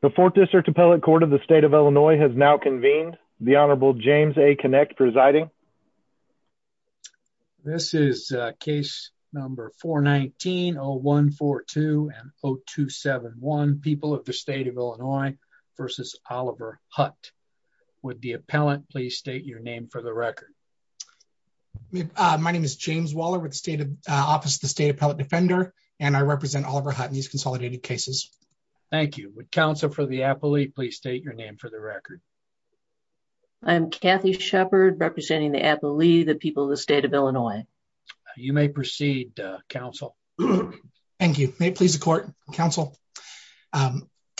The 4th District Appellate Court of the State of Illinois has now convened. The Honorable James A. Kinect presiding. This is case number 419-0142 and 0271, People of the State of Illinois v. Oliver Hutt. Would the appellant please state your name for the record. My name is James Waller with the Office of the State Appellate Defender, and I represent Oliver Hutt in these consolidated cases. Thank you. Would counsel for the appellee please state your name for the record. I'm Kathy Shepard representing the appellee, the people of the State of Illinois. You may proceed, counsel. Thank you. May it please the court, counsel.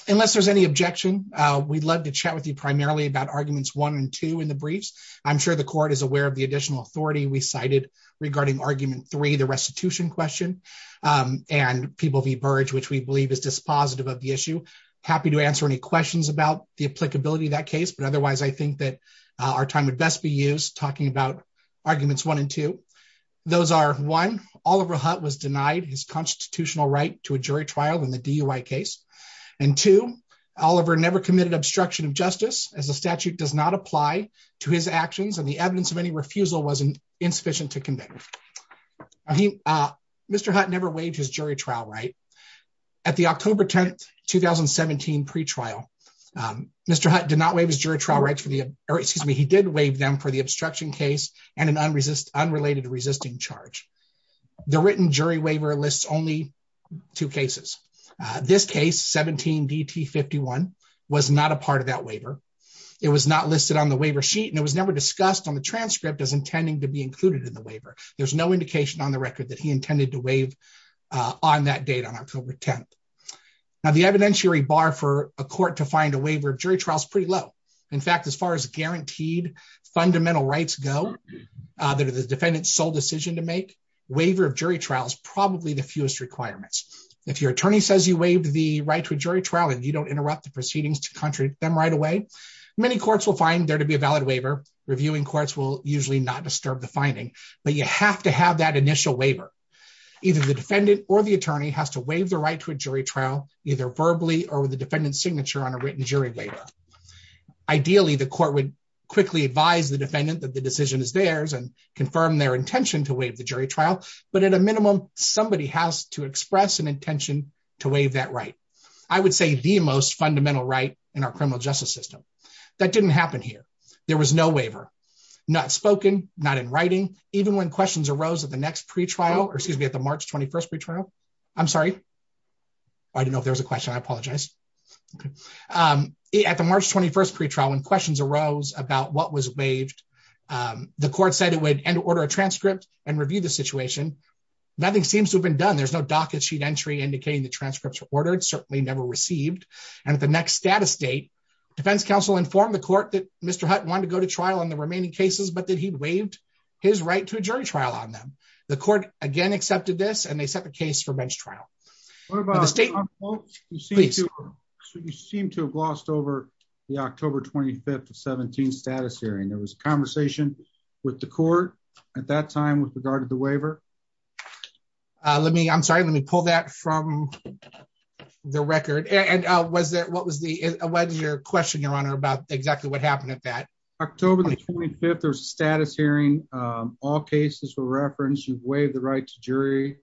Unless there's any objection, we'd love to chat with you primarily about arguments one and two in the briefs. I'm sure the court is aware of the additional authority we cited regarding argument three, the restitution question, and People v. Burge, which we believe is dispositive of the issue. Happy to answer any questions about the applicability of that case, but otherwise I think that our time would best be used talking about arguments one and two. Those are one, Oliver Hutt was denied his constitutional right to a jury trial in the DUI case. And two, Oliver never committed obstruction of justice as the statute does not apply to his actions and the evidence of any refusal was insufficient to convict. Mr. Hutt never waived his jury trial right. At the October 10, 2017 pre-trial, Mr. Hutt did not waive his jury trial rights for the, or excuse me, he did waive them for the obstruction case and an unrelated resisting charge. The written jury waiver lists only two cases. This case 17 DT 51 was not a part of that waiver. It was not listed on the waiver sheet and it was never discussed on the transcript as intending to be included in the waiver. There's no indication on the record that he intended to waive on that date on October 10. Now the evidentiary bar for a court to find a waiver of jury trial is pretty low. In fact, as far as guaranteed fundamental rights go, that are the defendant's sole decision to make, waiver of jury trial is probably the fewest requirements. If your attorney says you waived the right to a jury trial and you don't interrupt the proceedings to contradict them right away, many courts will find there to be a valid waiver, reviewing courts will usually not disturb the finding, but you have to have that initial waiver. Either the defendant or the attorney has to waive the right to a jury trial, either verbally or the defendant's signature on a written jury waiver. Ideally, the court would quickly advise the defendant that the decision is theirs and confirm their intention to waive the jury trial, but at a minimum, somebody has to express an intention to waive that right. I would say the most fundamental right in our criminal justice system. That didn't happen here. There was no waiver, not spoken, not in writing, even when questions arose at the next pretrial or excuse me at the March 21st pretrial. I'm sorry. I don't know if there's a question I apologize. At the March 21st pretrial when questions arose about what was waived. The court said it would end order a transcript and review the situation. Nothing seems to have been done there's no docket sheet entry indicating the transcripts were ordered certainly never received. And at the next status date, defense counsel informed the court that Mr Hutton want to go to trial and the remaining cases but that he'd waived his right to a jury trial on them. The court again accepted this and they set the case for bench trial. State. You seem to have lost over the October 25 to 17 status hearing there was a conversation with the court at that time with regard to the waiver. Let me I'm sorry let me pull that from the record and was that what was the, what is your question your honor about exactly what happened at that October 25 or status hearing all cases for reference you've waived the right to jury.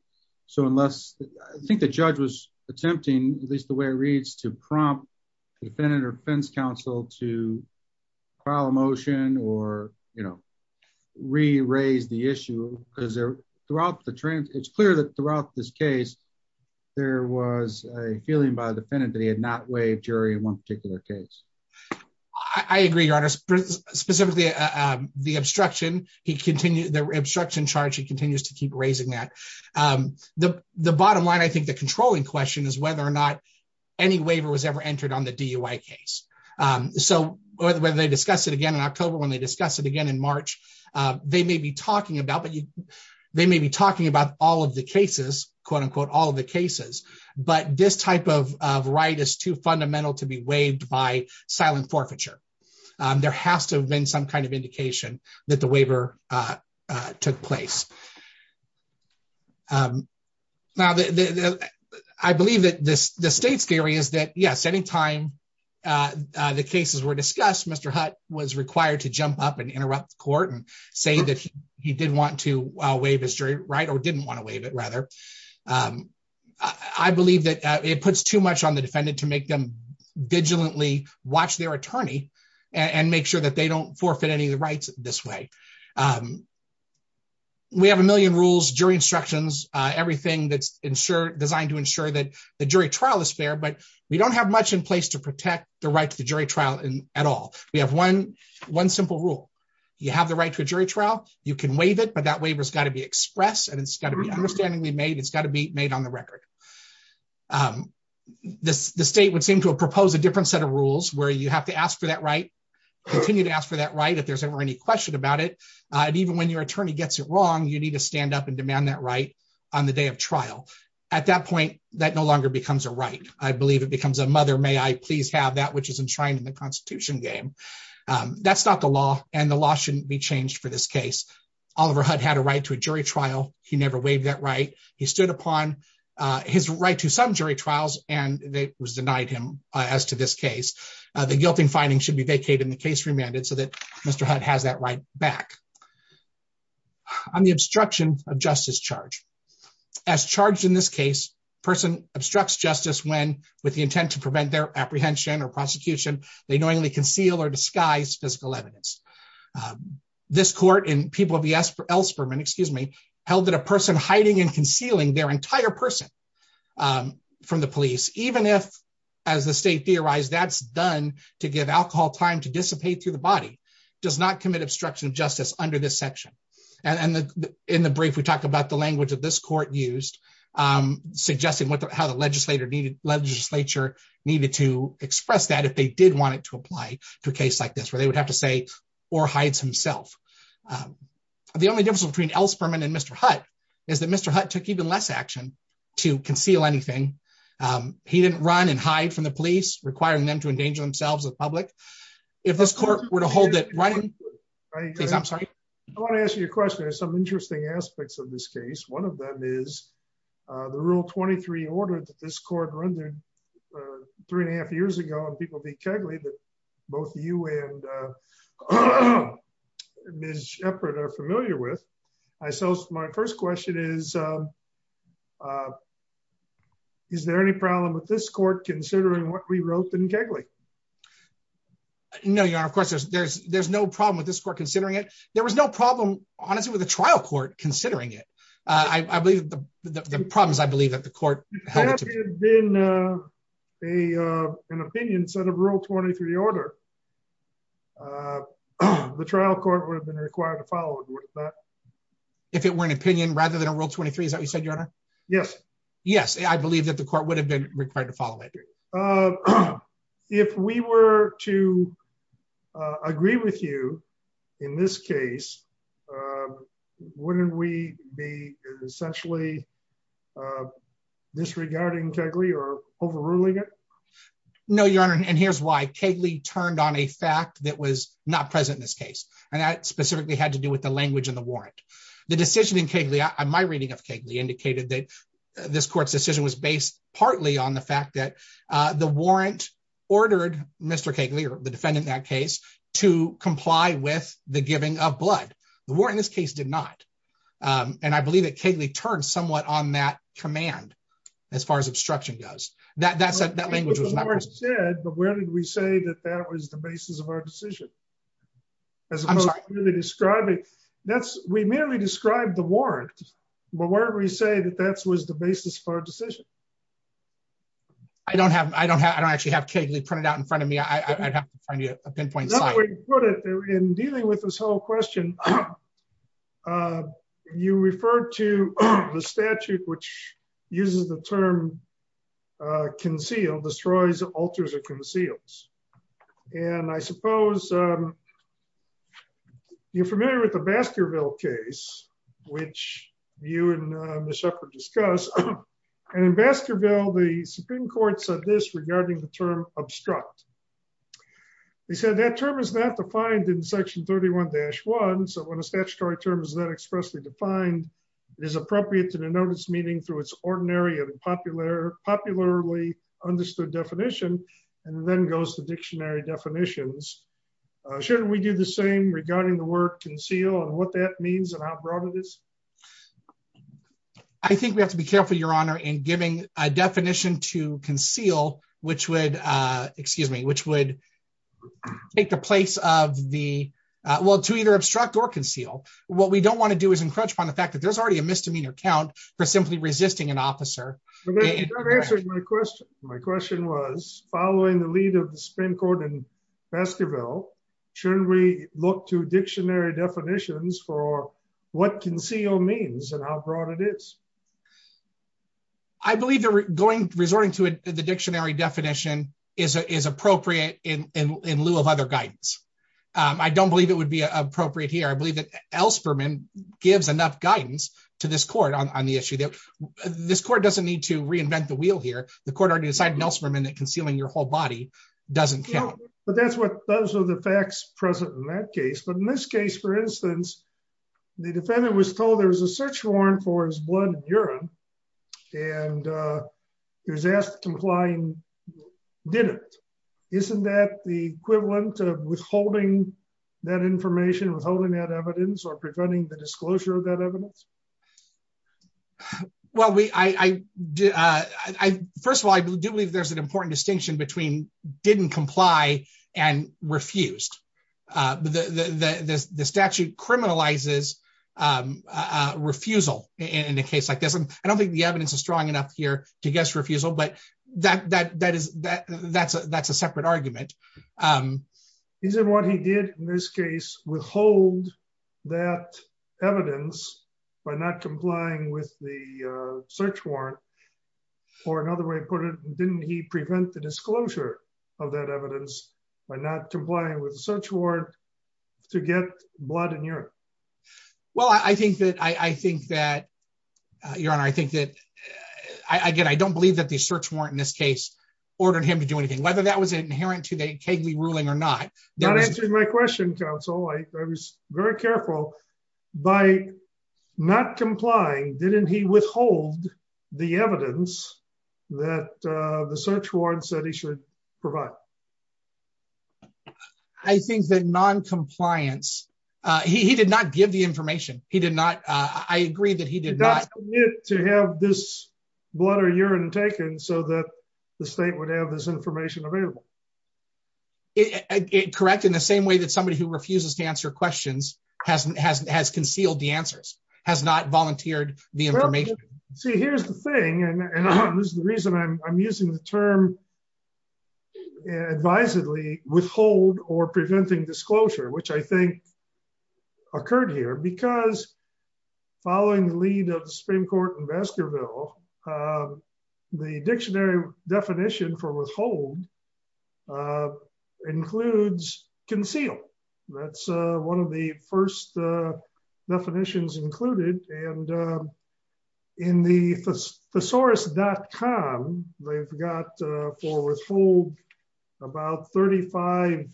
So unless I think the judge was attempting, at least the way it reads to prompt the defendant or fence counsel to file a motion or, you know, re raise the issue, because they're throughout the trend, it's clear that throughout this case, there was a feeling by the defendant that he had not waived jury in one particular case. I agree your honor specifically the obstruction, he continued the obstruction charge he continues to keep raising that the, the bottom line I think the controlling question is whether or not any waiver was ever entered on the DUI case. So, whether they discuss it again in October when they discuss it again in March. They may be talking about but they may be talking about all of the cases, quote unquote, all the cases, but this type of right is too fundamental to be waived by silent forfeiture. There has to have been some kind of indication that the waiver took place. Now, I believe that this, the state's theory is that yes anytime. The cases were discussed Mr hut was required to jump up and interrupt the court and say that he did want to waive his jury right or didn't want to waive it rather. I believe that it puts too much on the defendant to make them vigilantly watch their attorney and make sure that they don't forfeit any of the rights, this way. We have a million rules jury instructions, everything that's ensured designed to ensure that the jury trial is fair but we don't have much in place to protect the right to the jury trial in at all. We have one, one simple rule. You have the right to a jury trial, you can waive it but that waiver has got to be expressed and it's got to be understandingly made it's got to be made on the record. This, the state would seem to propose a different set of rules where you have to ask for that right continue to ask for that right if there's ever any question about it. And even when your attorney gets it wrong you need to stand up and demand that right on the day of trial. At that point, that no longer becomes a right, I believe it becomes a mother may I please have that which is enshrined in the Constitution game. That's not the law, and the law shouldn't be changed for this case, Oliver had had a right to a jury trial, he never waived that right, he stood upon his right to some jury trials, and that was denied him as to this case, the guilty finding should be vacated and the case remanded so that Mr. has that right back on the obstruction of justice charge as charged in this case, person obstructs justice when, with the intent to prevent their apprehension or prosecution, they knowingly conceal or disguise physical evidence. This court and people will be asked for elsewhere and excuse me, held that a person hiding and concealing their entire person from the police, even if, as the state theorized that's done to give alcohol time to dissipate through the body does not commit obstruction of justice under this section. And in the brief we talked about the language of this court used suggesting what the how the legislator needed legislature needed to express that if they did want it to apply to a case like this where they would have to say, or hides himself. The only difference between else permanent Mr. Hut is that Mr. took even less action to conceal anything. He didn't run and hide from the police requiring them to endanger themselves with public. If this court were to hold it right. I'm sorry. I want to ask you a question there's some interesting aspects of this case, one of them is the rule 23 order that this court rendered three and a half years ago and people be kindly but both you and. Miss Shepard are familiar with. I so my first question is, is there any problem with this court considering what we wrote in Kegley. No, you're of course there's there's there's no problem with this court considering it, there was no problem, honestly with the trial court considering it. I believe the problems I believe that the court has been a an opinion set of rule 23 order. The trial court would have been required to follow. If it were an opinion rather than a rule 23 is that you said your honor. Yes, yes, I believe that the court would have been required to follow it. Okay. If we were to agree with you. In this case, wouldn't we be essentially disregarding Kegley or overruling it. No, your honor, and here's why Kegley turned on a fact that was not present in this case, and that specifically had to do with the language and the warrant. The decision in Kegley I my reading of Kegley indicated that this court's decision was based partly on the fact that the warrant ordered Mr Kegley or the defendant that case to comply with the giving of blood, the war in this case did not. And I believe that Kegley turned somewhat on that command. As far as obstruction goes, that that's that language was not said, but where did we say that that was the basis of our decision. As I'm describing. That's, we merely described the warrant. But where we say that that's was the basis for decision. I don't have I don't have I don't actually have Kegley printed out in front of me I have a pinpoint. In dealing with this whole question. You refer to the statute, which uses the term concealed destroys alters or conceals. And I suppose you're familiar with the Baskerville case, which you and the shepherd discuss and in Baskerville the Supreme Court said this regarding the term obstruct. They said that term is not defined in section 31 dash one so when a statutory terms that expressly defined is appropriate to the notice meeting through its ordinary and popular popularly understood definition, and then goes to dictionary definitions. Shouldn't we do the same regarding the word conceal and what that means and how broad it is. I think we have to be careful your honor and giving a definition to conceal, which would excuse me, which would take the place of the world to either obstruct or conceal what we don't want to do is encroach upon the fact that there's already a misdemeanor for simply resisting an officer. My question, my question was, following the lead of the Supreme Court and Baskerville shouldn't we look to dictionary definitions for what conceal means and how broad it is. I believe they're going to resorting to the dictionary definition is appropriate in lieu of other guidance. I don't believe it would be appropriate here I believe that else Berman gives enough guidance to this court on the issue that this court doesn't need to reinvent the wheel here, the court already decided Nelson Berman that concealing your whole body doesn't count, but that's what those are the facts present in that case but in this case for instance, the defendant was told there was a search warrant for his blood urine, and he was asked to complying dinner. Isn't that the equivalent of withholding that information withholding that evidence or preventing the disclosure of that evidence. Well we I did. I, first of all, I do believe there's an important distinction between didn't comply and refused. The statute criminalizes refusal in a case like this and I don't think the evidence is strong enough here to guess refusal but that that that is that that's a that's a separate argument. He said what he did in this case, withhold that evidence by not complying with the search warrant, or another way of putting didn't he prevent the disclosure of that evidence by not complying with the search warrant to get blood in Europe. Well, I think that I think that you're on I think that I get I don't believe that the search warrant in this case, ordered him to do anything whether that was inherent to the Kegley ruling or not. That is my question Council I was very careful by not complying, didn't he withhold the evidence that the search warrants that he should provide. I think that non compliance. He did not give the information, he did not. I agree that he did not get to have this blood or urine taken so that the state would have this information available. It correct in the same way that somebody who refuses to answer questions hasn't hasn't has concealed the answers has not volunteered the information. See, here's the thing, and this is the reason I'm using the term advisedly withhold or preventing disclosure which I think occurred here because following the lead of the Supreme Court in Baskerville. The dictionary definition for withhold includes conceal. That's one of the first definitions included, and in the thesaurus.com, they've got for withhold about 35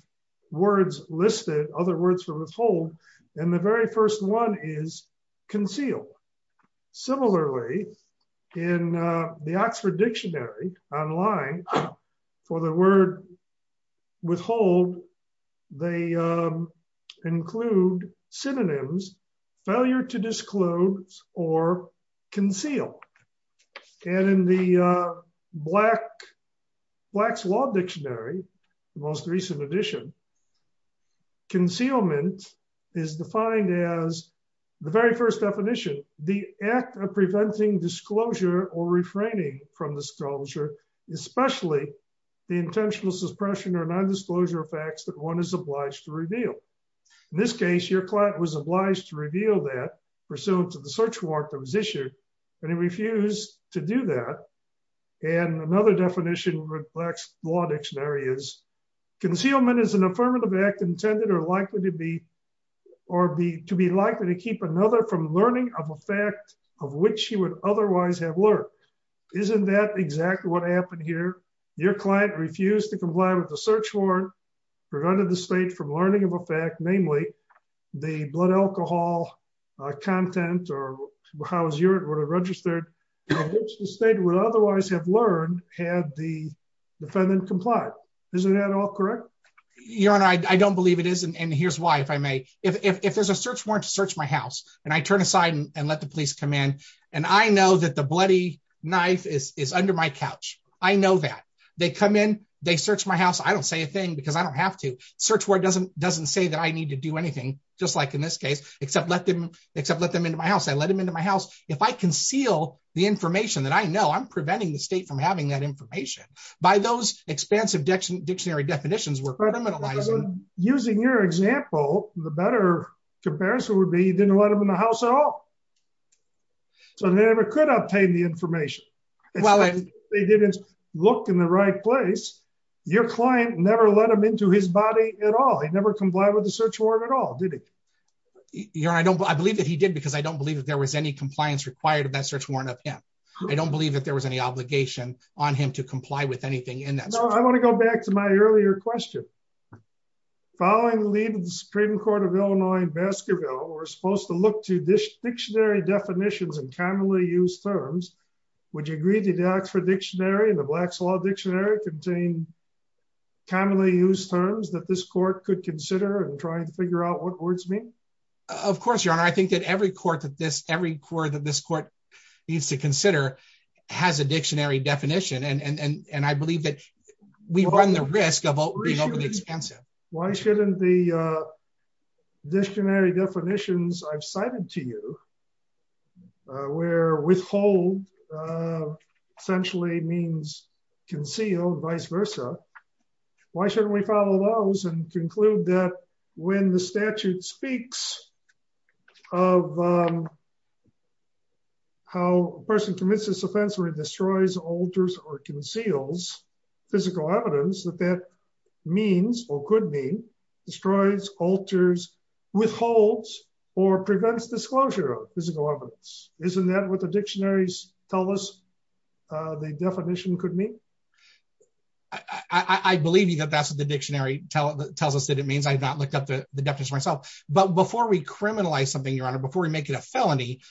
words listed other words for withhold, and the very first one is conceal. Similarly, in the Oxford Dictionary online for the word withhold. They include synonyms failure to disclose or conceal. And in the Black's Law Dictionary, the most recent edition, concealment is defined as the very first definition, the act of preventing disclosure or refraining from disclosure, especially the intentional suppression or non-disclosure of facts that one is obliged to reveal. In this case, your client was obliged to reveal that pursuant to the search warrant that was issued, and he refused to do that. And another definition with Black's Law Dictionary is concealment is an affirmative act intended or likely to be or be to be likely to keep another from learning of a fact of which he would otherwise have learned. Isn't that exactly what happened here? Your client refused to comply with the search warrant, prevented the state from learning of a fact, namely, the blood alcohol content or how his urine would have registered, which the state would otherwise have learned had the defendant complied. Isn't that all correct? Your Honor, I don't believe it is. And here's why, if I may. If there's a search warrant to search my house, and I turn aside and let the police come in, and I know that the bloody knife is under my couch. I know that. They come in, they search my house. I don't say a thing because I don't have to. Search warrant doesn't say that I need to do anything, just like in this case, except let them into my house. I let him into my house. If I conceal the information that I know, I'm preventing the state from having that information. By those expansive dictionary definitions, we're criminalizing. Using your example, the better comparison would be you didn't let him in the house at all. So they never could obtain the information. Well, they didn't look in the right place. Your client never let him into his body at all. He never complied with the search warrant at all, did he? Your Honor, I believe that he did because I don't believe that there was any compliance required of that search warrant of him. I don't believe that there was any obligation on him to comply with anything in that search warrant. I want to go back to my earlier question. Following the lead of the Supreme Court of Illinois in Baskerville, we're supposed to look to dictionary definitions and commonly used terms. Would you agree that the Oxford Dictionary and the Black's Law Dictionary contain commonly used terms that this court could consider in trying to figure out what words mean? Of course, Your Honor. I think that every court that this court needs to consider has a dictionary definition, and I believe that we run the risk of being overly expensive. Why shouldn't the dictionary definitions I've cited to you, where withhold essentially means conceal, vice versa, why shouldn't we follow those and conclude that when the statute speaks of how a person commits this offense or destroys, alters, or conceals physical evidence that that means or could mean, destroys, alters, withholds, or prevents disclosure of physical evidence? Isn't that what the dictionaries tell us the definition could mean? I believe that that's what the dictionary tells us that it means. I've not looked up the definition myself. But before we criminalize something, Your Honor, before we make it a felony,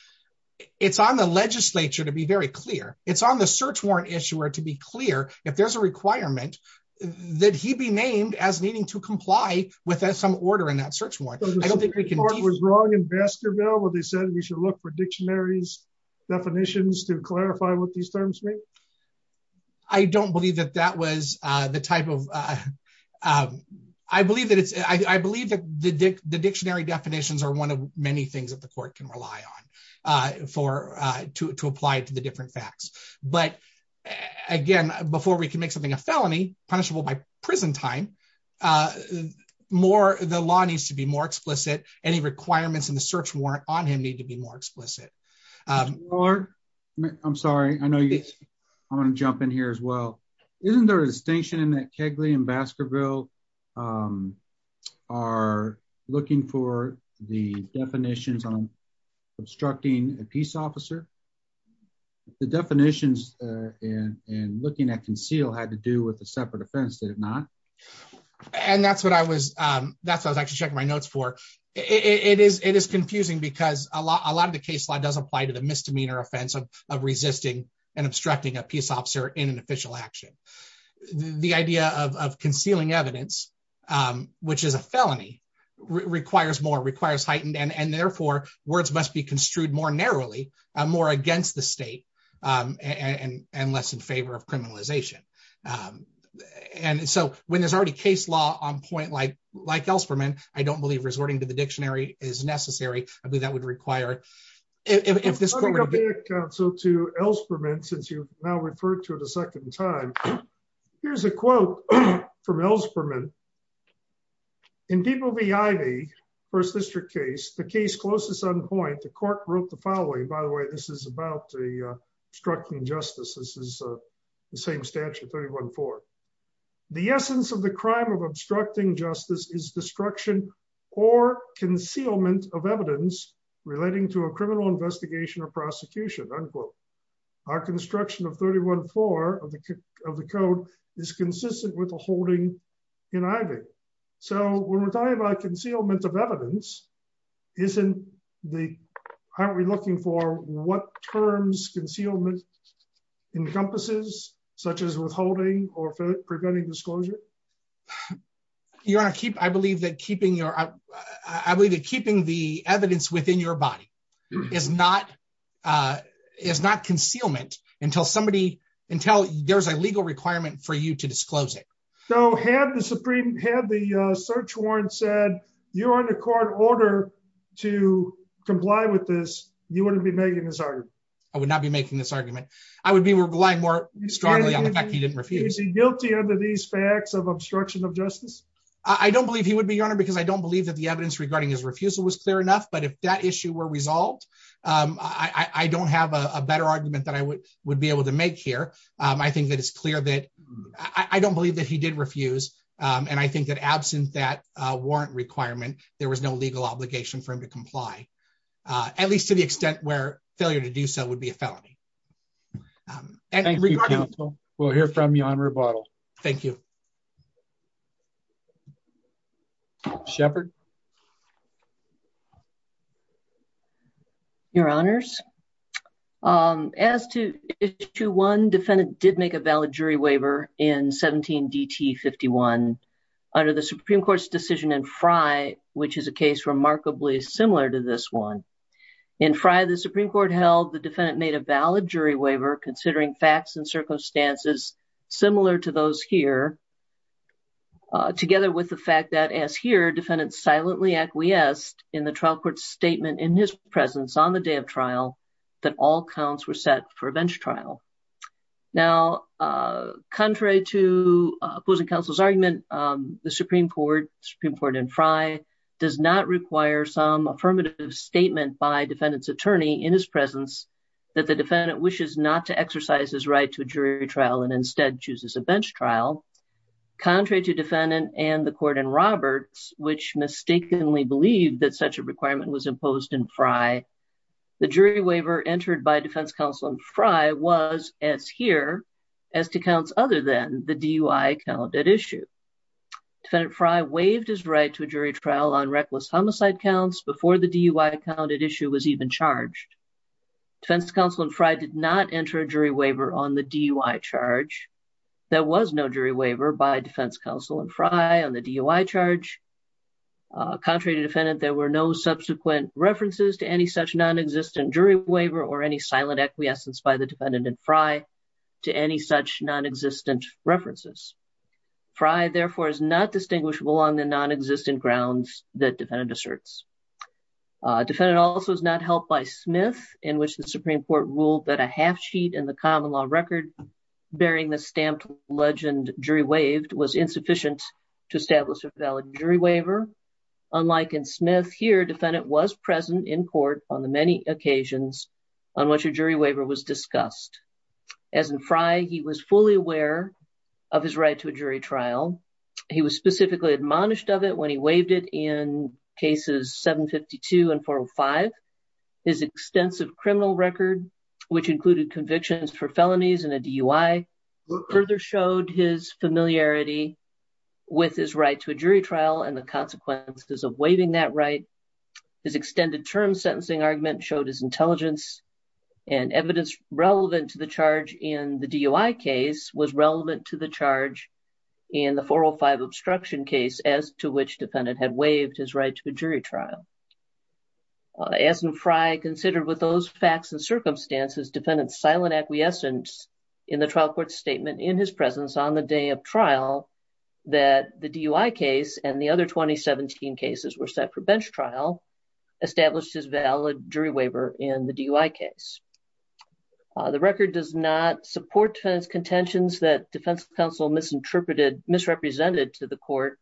it's on the legislature to be very clear. It's on the search warrant issuer to be clear if there's a requirement that he be named as needing to comply with some order in that search warrant. Was the Supreme Court wrong in Baskerville when they said we should look for dictionaries definitions to clarify what these terms mean? I don't believe that that was the type of... I believe that the dictionary definitions are one of many things that the court can rely on to apply to the different facts. But, again, before we can make something a felony, punishable by prison time, the law needs to be more explicit. Any requirements in the search warrant on him need to be more explicit. Your Honor, I'm sorry. I'm going to jump in here as well. Isn't there a distinction in that Kegley and Baskerville are looking for the definitions on obstructing a peace officer? The definitions in looking at conceal had to do with a separate offense, did it not? And that's what I was actually checking my notes for. It is confusing because a lot of the case law does apply to the misdemeanor offense of resisting and obstructing a peace officer in an official action. The idea of concealing evidence, which is a felony, requires more, requires heightened, and therefore words must be construed more narrowly, more against the state, and less in favor of criminalization. And so when there's already case law on point like Elsperman, I don't believe resorting to the dictionary is necessary. I believe that would require it. Let me go back, counsel, to Elsperman since you've now referred to it a second time. Here's a quote from Elsperman. In People v. Ivey, First District case, the case closest on point, the court wrote the following. By the way, this is about obstructing justice. This is the same statute, 314. The essence of the crime of obstructing justice is destruction or concealment of evidence relating to a criminal investigation or prosecution, unquote. Our construction of 314 of the code is consistent with the holding in Ivey. So when we're talking about concealment of evidence, aren't we looking for what terms concealment encompasses, such as withholding or preventing disclosure? Your Honor, I believe that keeping the evidence within your body is not concealment until there's a legal requirement for you to disclose it. So had the search warrant said you're under court order to comply with this, you wouldn't be making this argument? I would not be making this argument. I would be relying more strongly on the fact that you didn't refuse. Is he guilty under these facts of obstruction of justice? I don't believe he would be, Your Honor, because I don't believe that the evidence regarding his refusal was clear enough. But if that issue were resolved, I don't have a better argument that I would be able to make here. I think that it's clear that I don't believe that he did refuse. And I think that absent that warrant requirement, there was no legal obligation for him to comply, at least to the extent where failure to do so would be a felony. Thank you, counsel. We'll hear from you on rebuttal. Thank you. Shepard. Your Honors, as to issue one, defendant did make a valid jury waiver in 17 DT 51 under the Supreme Court's decision in Frye, which is a case remarkably similar to this one. In Frye, the Supreme Court held the defendant made a valid jury waiver considering facts and circumstances similar to those here, together with the fact that, as here, defendant silently acquiesced in the trial court statement in his presence on the day of trial that all counts were set for a bench trial. Now, contrary to opposing counsel's argument, the Supreme Court in Frye does not require some affirmative statement by defendant's attorney in his presence that the defendant wishes not to exercise his right to a jury trial and instead chooses a bench trial. Contrary to defendant and the court in Roberts, which mistakenly believed that such a requirement was imposed in Frye, the jury waiver entered by defense counsel in Frye was, as here, as to counts other than the DUI counted issue. Defendant Frye waived his right to a jury trial on reckless homicide counts before the DUI counted issue was even charged. Defense counsel in Frye did not enter a jury waiver on the DUI charge. There was no jury waiver by defense counsel in Frye on the DUI charge. Contrary to defendant, there were no subsequent references to any such non-existent jury waiver or any silent acquiescence by the defendant in Frye to any such non-existent references. Frye, therefore, is not distinguishable on the non-existent grounds that defendant asserts. Defendant also is not held by Smith, in which the Supreme Court ruled that a half sheet in the common law record bearing the stamped legend jury waived was insufficient to establish a valid jury waiver. Unlike in Smith, here, defendant was present in court on the many occasions on which a jury waiver was discussed. As in Frye, he was fully aware of his right to a jury trial. He was specifically admonished of it when he waived it in cases 752 and 405. His extensive criminal record, which included convictions for felonies and a DUI, further showed his familiarity with his right to a jury trial and the consequences of waiving that right. His extended term sentencing argument showed his intelligence and evidence relevant to the charge in the DUI case was relevant to the charge in the 405 obstruction case as to which defendant had waived his right to a jury trial. As in Frye, considered with those facts and circumstances, defendant's silent acquiescence in the trial court statement in his presence on the day of trial that the DUI case and the other 2017 cases were set for bench trial established his valid jury waiver in the DUI case. The record does not support defendant's contentions that defense counsel misinterpreted, misrepresented to the court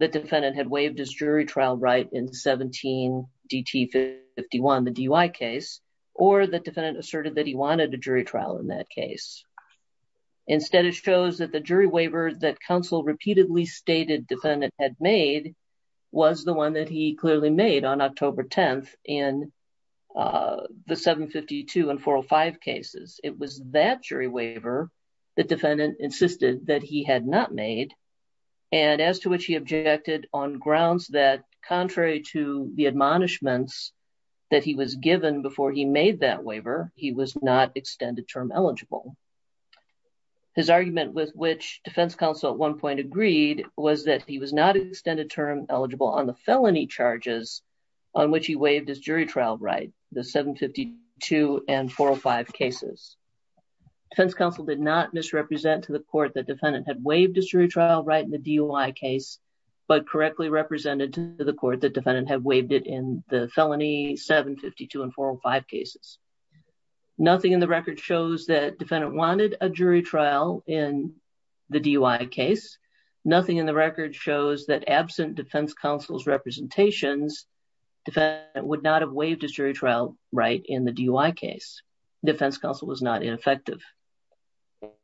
that defendant had waived his jury trial right in 17 DT51, the DUI case, or that defendant asserted that he wanted a jury trial in that case. Instead, it shows that the jury waiver that counsel repeatedly stated defendant had made was the one that he clearly made on October 10th in the 752 and 405 cases. It was that jury waiver that defendant insisted that he had not made and as to which he objected on grounds that contrary to the admonishments that he was given before he made that waiver, he was not extended term eligible. His argument with which defense counsel at one point agreed was that he was not extended term eligible on the felony charges on which he waived his jury trial right, the 752 and 405 cases. Defense counsel did not misrepresent to the court that defendant had waived his jury trial right in the DUI case, but correctly represented to the court that defendant had waived it in the felony 752 and 405 cases. Nothing in the record shows that defendant wanted a jury trial in the DUI case. Nothing in the record shows that absent defense counsel's representations, defendant would not have waived his jury trial right in the DUI case. Defense counsel was not ineffective.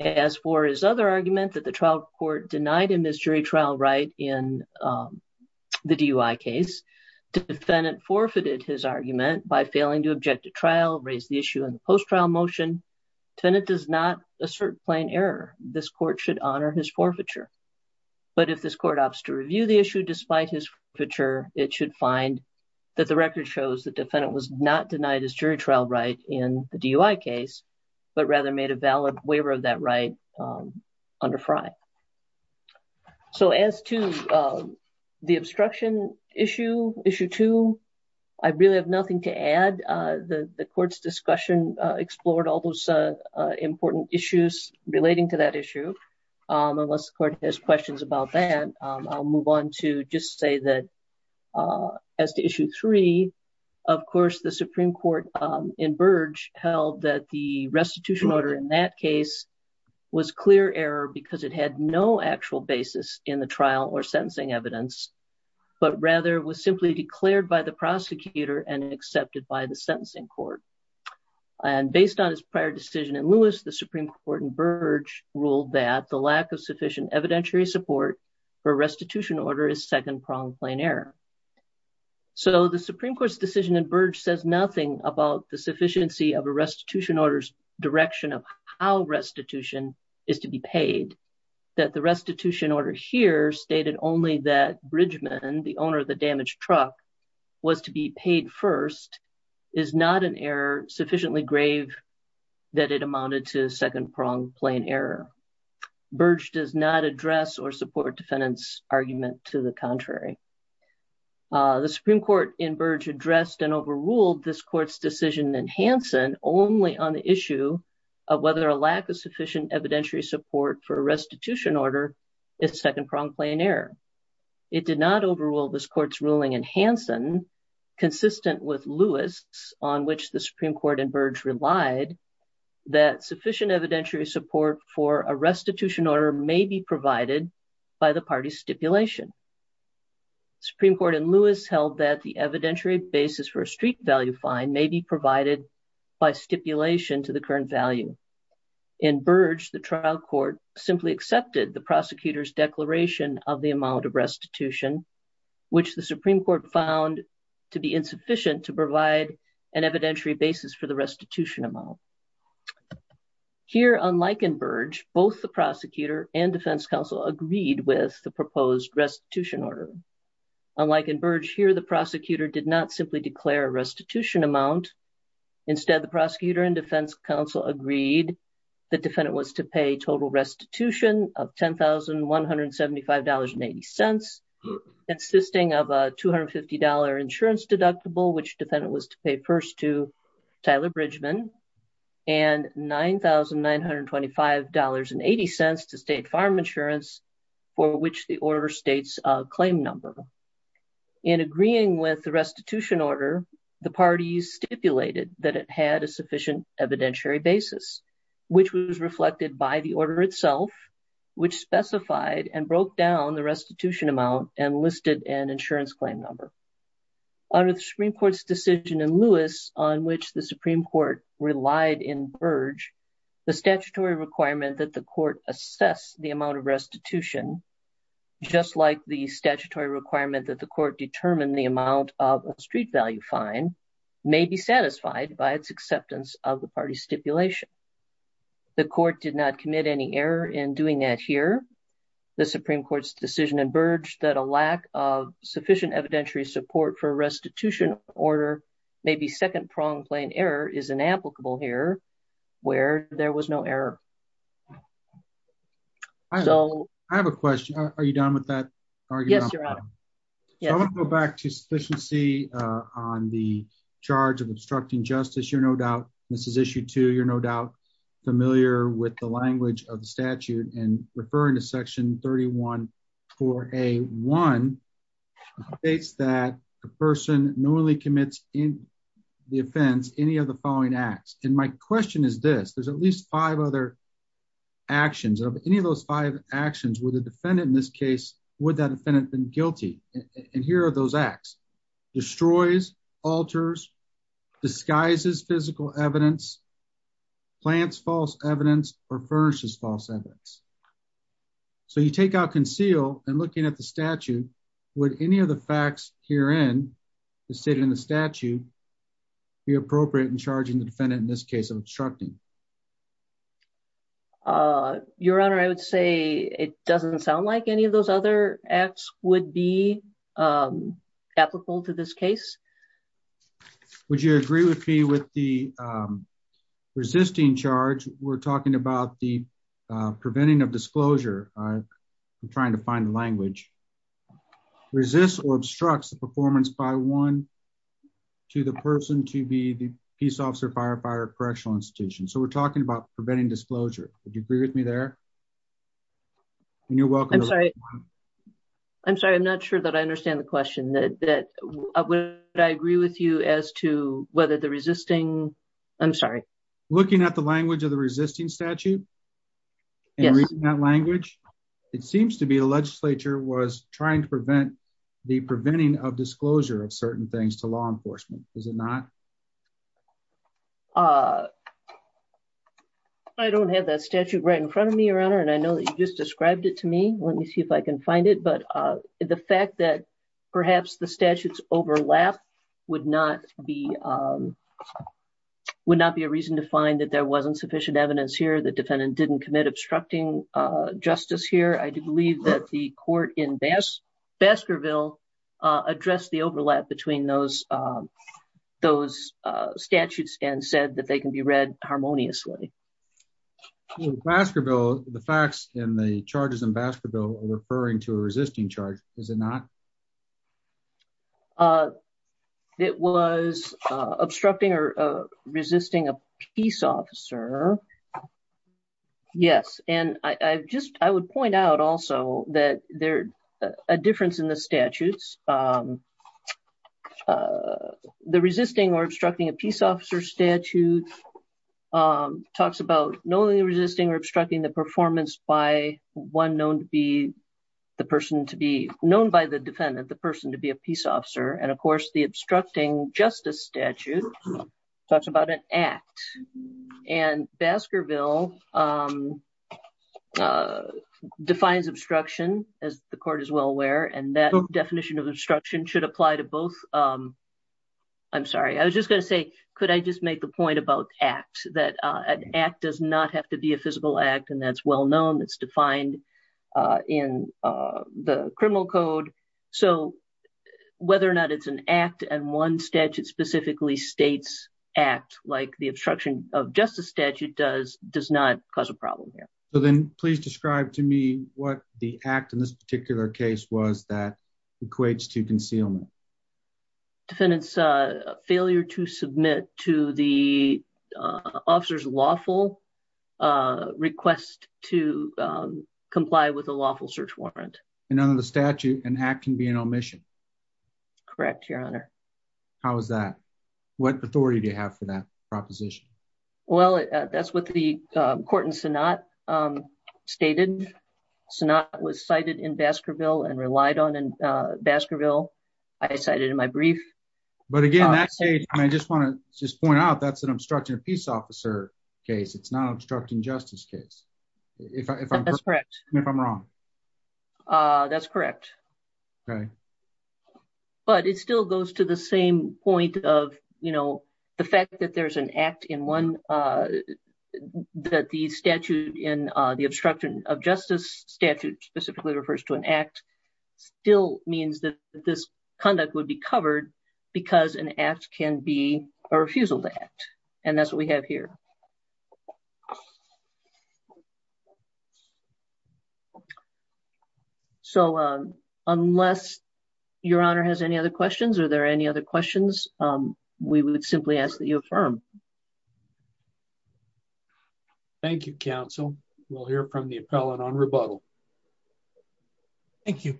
As for his other argument that the trial court denied him his jury trial right in the DUI case, defendant forfeited his argument by failing to object to trial, raise the issue in the post trial motion. Defendant does not assert plain error. This court should honor his forfeiture. But if this court opts to review the issue despite his forfeiture, it should find that the record shows that defendant was not denied his jury trial right in the DUI case, but rather made a valid waiver of that right under FRI. So as to the obstruction issue, issue two, I really have nothing to add. The court's discussion explored all those important issues relating to that issue. Unless the court has questions about that, I'll move on to just say that as to issue three, of course, the Supreme Court in Burge held that the restitution order in that case was clear error because it had no actual basis in the trial or sentencing evidence, but rather was simply declared by the prosecutor and accepted by the sentencing court. And based on his prior decision in Lewis, the Supreme Court in Burge ruled that the lack of sufficient evidentiary support for restitution order is second-pronged plain error. So the Supreme Court's decision in Burge says nothing about the sufficiency of a restitution order's direction of how restitution is to be paid. And that the restitution order here stated only that Bridgman, the owner of the damaged truck, was to be paid first is not an error sufficiently grave that it amounted to second-pronged plain error. Burge does not address or support defendant's argument to the contrary. The Supreme Court in Burge addressed and overruled this court's decision in Hansen only on the issue of whether a lack of sufficient evidentiary support for a restitution order is second-pronged plain error. It did not overrule this court's ruling in Hansen, consistent with Lewis, on which the Supreme Court in Burge relied, that sufficient evidentiary support for a restitution order may be provided by the party stipulation. The Supreme Court in Lewis held that the evidentiary basis for a street value fine may be provided by stipulation to the current value. In Burge, the trial court simply accepted the prosecutor's declaration of the amount of restitution, which the Supreme Court found to be insufficient to provide an evidentiary basis for the restitution amount. Here, unlike in Burge, both the prosecutor and defense counsel agreed with the proposed restitution order. Unlike in Burge, here the prosecutor did not simply declare a restitution amount. Instead, the prosecutor and defense counsel agreed the defendant was to pay total restitution of $10,175.80, consisting of a $250 insurance deductible, which defendant was to pay first to Tyler Bridgman, and $9,925.80 to State Farm Insurance, for which the order states a claim number. In agreeing with the restitution order, the parties stipulated that it had a sufficient evidentiary basis, which was reflected by the order itself, which specified and broke down the restitution amount and listed an insurance claim number. Under the Supreme Court's decision in Lewis, on which the Supreme Court relied in Burge, the statutory requirement that the court assess the amount of restitution, just like the statutory requirement that the court determine the amount of a street value fine, may be satisfied by its acceptance of the parties' stipulation. The court did not commit any error in doing that here. The Supreme Court's decision in Burge that a lack of sufficient evidentiary support for a restitution order may be second-pronged plain error is inapplicable here, where there was no error. I have a question. Are you done with that argument? Yes, Your Honor. I want to go back to sufficiency on the charge of obstructing justice. You're no doubt, Mrs. Issue 2, you're no doubt familiar with the language of the statute, and referring to Section 31-4A-1, states that a person normally commits in the offense any of the following acts. And my question is this. There's at least five other actions. Of any of those five actions, would the defendant in this case, would that defendant have been guilty? And here are those acts. Destroys, alters, disguises physical evidence, plants false evidence, or furnishes false evidence. So you take out conceal and looking at the statute, would any of the facts herein, stated in the statute, be appropriate in charging the defendant in this case of obstructing? Your Honor, I would say it doesn't sound like any of those other acts would be applicable to this case. Would you agree with me with the resisting charge? We're talking about the preventing of disclosure. I'm trying to find the language. Resists or obstructs the performance by one to the person to be the peace officer, firefighter, correctional institution. So we're talking about preventing disclosure. Would you agree with me there? I'm sorry. I'm sorry. I'm not sure that I understand the question. Would I agree with you as to whether the resisting? I'm sorry. Looking at the language of the resisting statute and reading that language, it seems to be the legislature was trying to prevent the preventing of disclosure of certain things to law enforcement. Is it not? I don't have that statute right in front of me, Your Honor, and I know that you just described it to me. Let me see if I can find it. But the fact that perhaps the statutes overlap would not be would not be a reason to find that there wasn't sufficient evidence here. The defendant didn't commit obstructing justice here. I do believe that the court in Baskerville addressed the overlap between those those statutes and said that they can be read harmoniously. Baskerville, the facts in the charges in Baskerville are referring to a resisting charge. Is it not? It was obstructing or resisting a peace officer. Yes. And I just I would point out also that there a difference in the statutes. The resisting or obstructing a peace officer statute talks about knowingly resisting or obstructing the performance by one known to be the person to be known by the defendant, the person to be a peace officer. And, of course, the obstructing justice statute talks about an act and Baskerville defines obstruction as the court is well aware. And that definition of obstruction should apply to both. I'm sorry, I was just going to say, could I just make the point about acts that an act does not have to be a physical act? And that's well known. It's defined in the criminal code. So whether or not it's an act and one statute specifically states act like the obstruction of justice statute does does not cause a problem here. So then please describe to me what the act in this particular case was that equates to concealment. Defendants failure to submit to the officers lawful request to comply with a lawful search warrant. None of the statute and act can be an omission. Correct, Your Honor. How is that? What authority do you have for that proposition? Well, that's what the court in Sanat stated. Sanat was cited in Baskerville and relied on in Baskerville. I cited in my brief. But again, I just want to just point out that's an obstruction of peace officer case. It's not obstructing justice case. If I'm correct, if I'm wrong. That's correct. Right. But it still goes to the same point of, you know, the fact that there's an act in one that the statute in the obstruction of justice statute specifically refers to an act still means that this conduct would be covered because an act can be a refusal to act. And that's what we have here. So, unless Your Honor has any other questions, are there any other questions, we would simply ask that you affirm. Thank you, counsel will hear from the appellate on rebuttal. Thank you.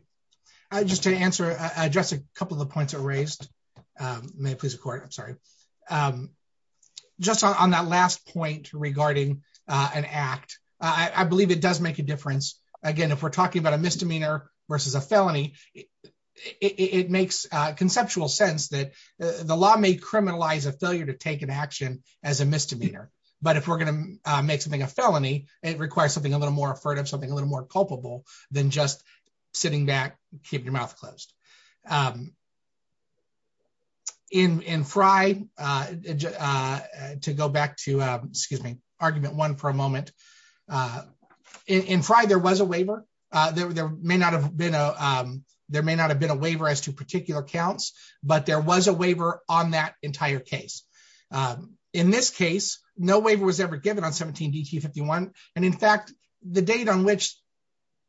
Just to answer address a couple of points are raised. May please record I'm sorry. Just on that last point regarding an act. I believe it does make a difference. Again, if we're talking about a misdemeanor versus a felony. It makes conceptual sense that the law may criminalize a failure to take an action as a misdemeanor, but if we're going to make something a felony, it requires something a little more affordable something a little more culpable than just sitting back, keep your mouth closed in Friday. To go back to, excuse me, argument one for a moment. In Friday there was a waiver. There may not have been a. There may not have been a waiver as to particular counts, but there was a waiver on that entire case. In this case, no waiver was ever given on 17 DT 51. And in fact, the date on which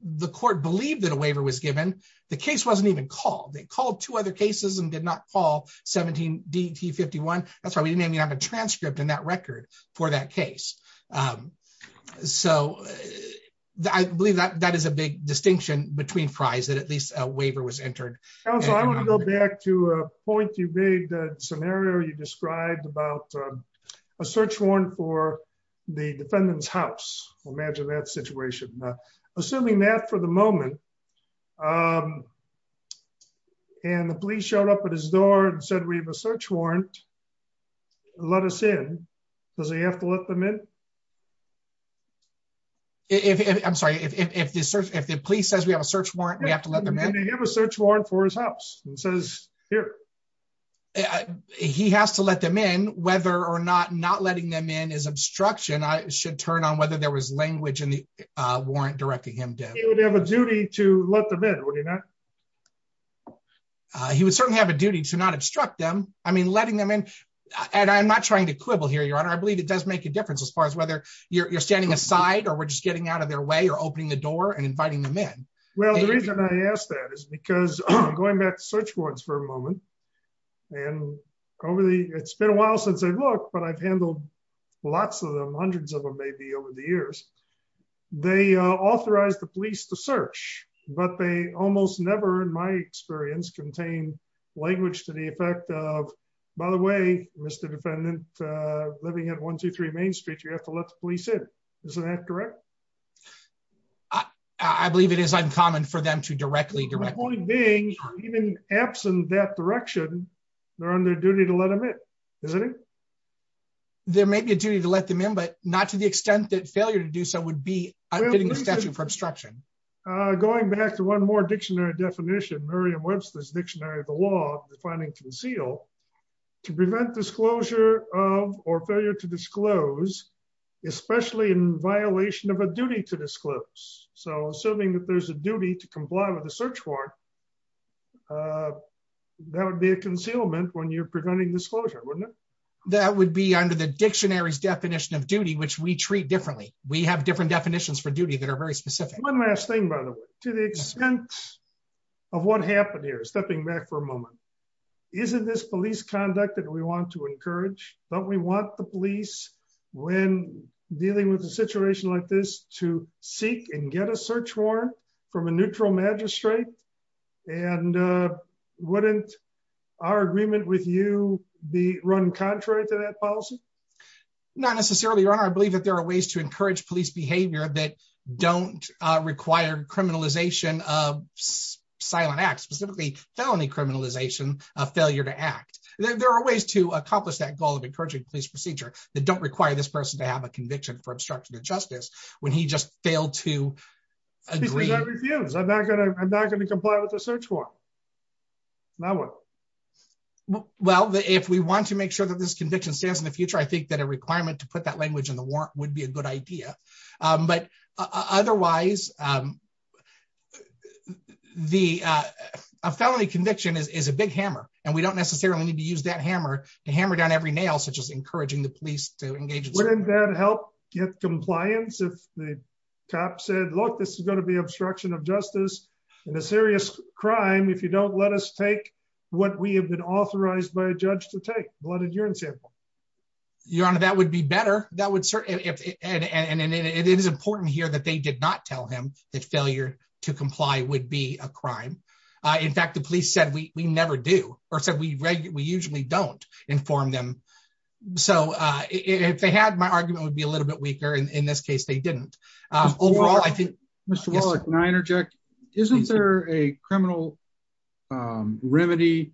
the court believed that a waiver was given the case wasn't even called they called two other cases and did not call 17 DT 51. That's why we didn't even have a transcript in that record for that case. So, I believe that that is a big distinction between fries that at least a waiver was entered. Back to point to be the scenario you described about a search warrant for the defendant's house. Imagine that situation, assuming that for the moment. And the police showed up at his door and said we have a search warrant. Let us in. Does he have to let them in. If I'm sorry if the search if the police says we have a search warrant we have to let them have a search warrant for his house says here. He has to let them in, whether or not not letting them in is obstruction I should turn on whether there was language in the warrant directing him to have a duty to let them in. He was certainly have a duty to not obstruct them. I mean letting them in. And I'm not trying to quibble here your honor I believe it does make a difference as far as whether you're standing aside or we're just getting out of their way or opening the door and inviting them in. Well, the reason I asked that is because I'm going back search warrants for a moment. And over the, it's been a while since I've looked but I've handled lots of them hundreds of them maybe over the years, they authorized the police to search, but they almost never in my experience contain language to the effect of, by the way, Mr. You have to let the police in. Isn't that correct. I believe it is uncommon for them to directly directly being even absent that direction. They're on their duty to let them in. There may be a duty to let them in but not to the extent that failure to do so would be a statute for obstruction. Going back to one more dictionary definition Miriam Webster's dictionary of the law, defining conceal to prevent disclosure of or failure to disclose, especially in violation of a duty to disclose. So assuming that there's a duty to comply with the search warrant. That would be a concealment when you're preventing disclosure. That would be under the dictionaries definition of duty which we treat differently. We have different definitions for duty that are very specific one last thing by the way, to the extent of what happened here stepping back for a moment. Isn't this police conduct that we want to encourage, but we want the police when dealing with a situation like this to seek and get a search warrant from a neutral magistrate and wouldn't our agreement with you, the run contrary to that policy. Not necessarily run I believe that there are ways to encourage police behavior that don't require criminalization of silent act specifically felony criminalization of failure to act. There are ways to accomplish that goal of encouraging police procedure that don't require this person to have a conviction for obstruction of justice, when he just failed to agree. I'm not going to, I'm not going to comply with the search for my work. Well, if we want to make sure that this conviction stands in the future I think that a requirement to put that language in the work would be a good idea. But otherwise, the felony conviction is a big hammer, and we don't necessarily need to use that hammer to hammer down every nail such as encouraging the police to engage in that help get compliance if the cop said look this is going to be obstruction of justice in a serious crime if you don't let us take what we have been authorized by a judge to take blood and urine sample. Your Honor, that would be better, that would certainly add and it is important here that they did not tell him that failure to comply would be a crime. In fact, the police said we never do, or said we regularly usually don't inform them. So, if they had my argument would be a little bit weaker and in this case they didn't. Overall, I think, Mr Wallach, may I interject, isn't there a criminal remedy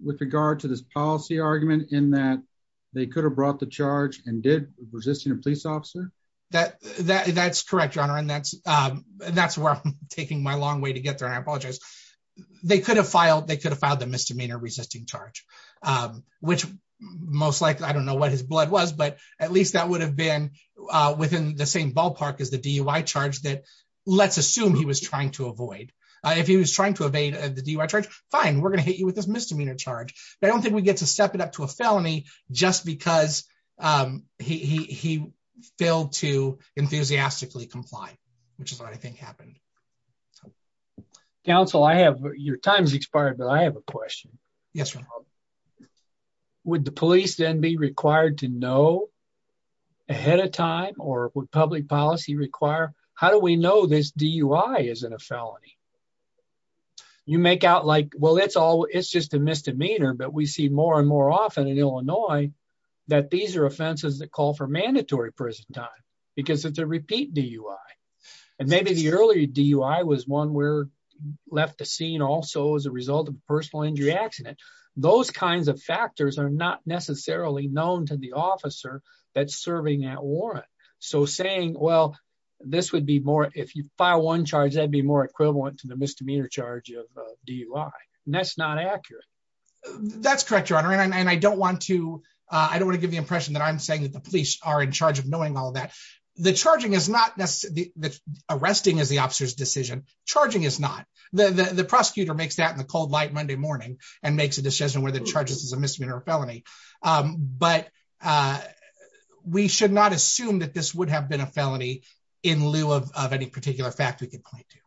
with regard to this policy argument in that they could have brought the charge and did resisting a police officer. That, that's correct Your Honor and that's, that's where I'm taking my long way to get there and I apologize. They could have filed they could have found the misdemeanor resisting charge, which most likely I don't know what his blood was but at least that would have been within the same ballpark is the DUI charge that let's assume he was trying to avoid. If he was trying to evade the DUI charge, fine, we're going to hit you with this misdemeanor charge. I don't think we get to step it up to a felony, just because he failed to enthusiastically comply, which is what I think happened. Council I have your time's expired, but I have a question. Yes. Would the police then be required to know, ahead of time, or would public policy require, how do we know this DUI isn't a felony. You make out like well it's all it's just a misdemeanor but we see more and more often in Illinois, that these are offenses that call for mandatory prison time, because it's a repeat DUI. And maybe the early DUI was one where left the scene also as a result of personal injury accident, those kinds of factors are not necessarily known to the officer that serving at warrant. So saying, well, this would be more if you file one charge that'd be more equivalent to the misdemeanor charge of DUI, that's not accurate. That's correct your honor and I don't want to, I don't want to give the impression that I'm saying that the police are in charge of knowing all that the charging is not necessarily the arresting is the officer's decision, charging is not the the prosecutor makes that in the cold light Monday morning, and makes a decision where the charges is a misdemeanor felony. But we should not assume that this would have been a felony in lieu of any particular fact we can point to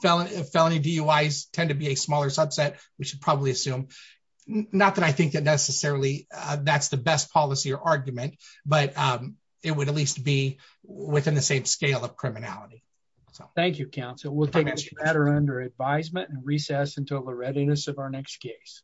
felony felony DUIs tend to be a smaller subset, we should probably assume, not that I think that necessarily, that's the best policy or argument, but it would at least be within the same scale of criminality. Thank you counsel will take this matter under advisement and recess until the readiness of our next case.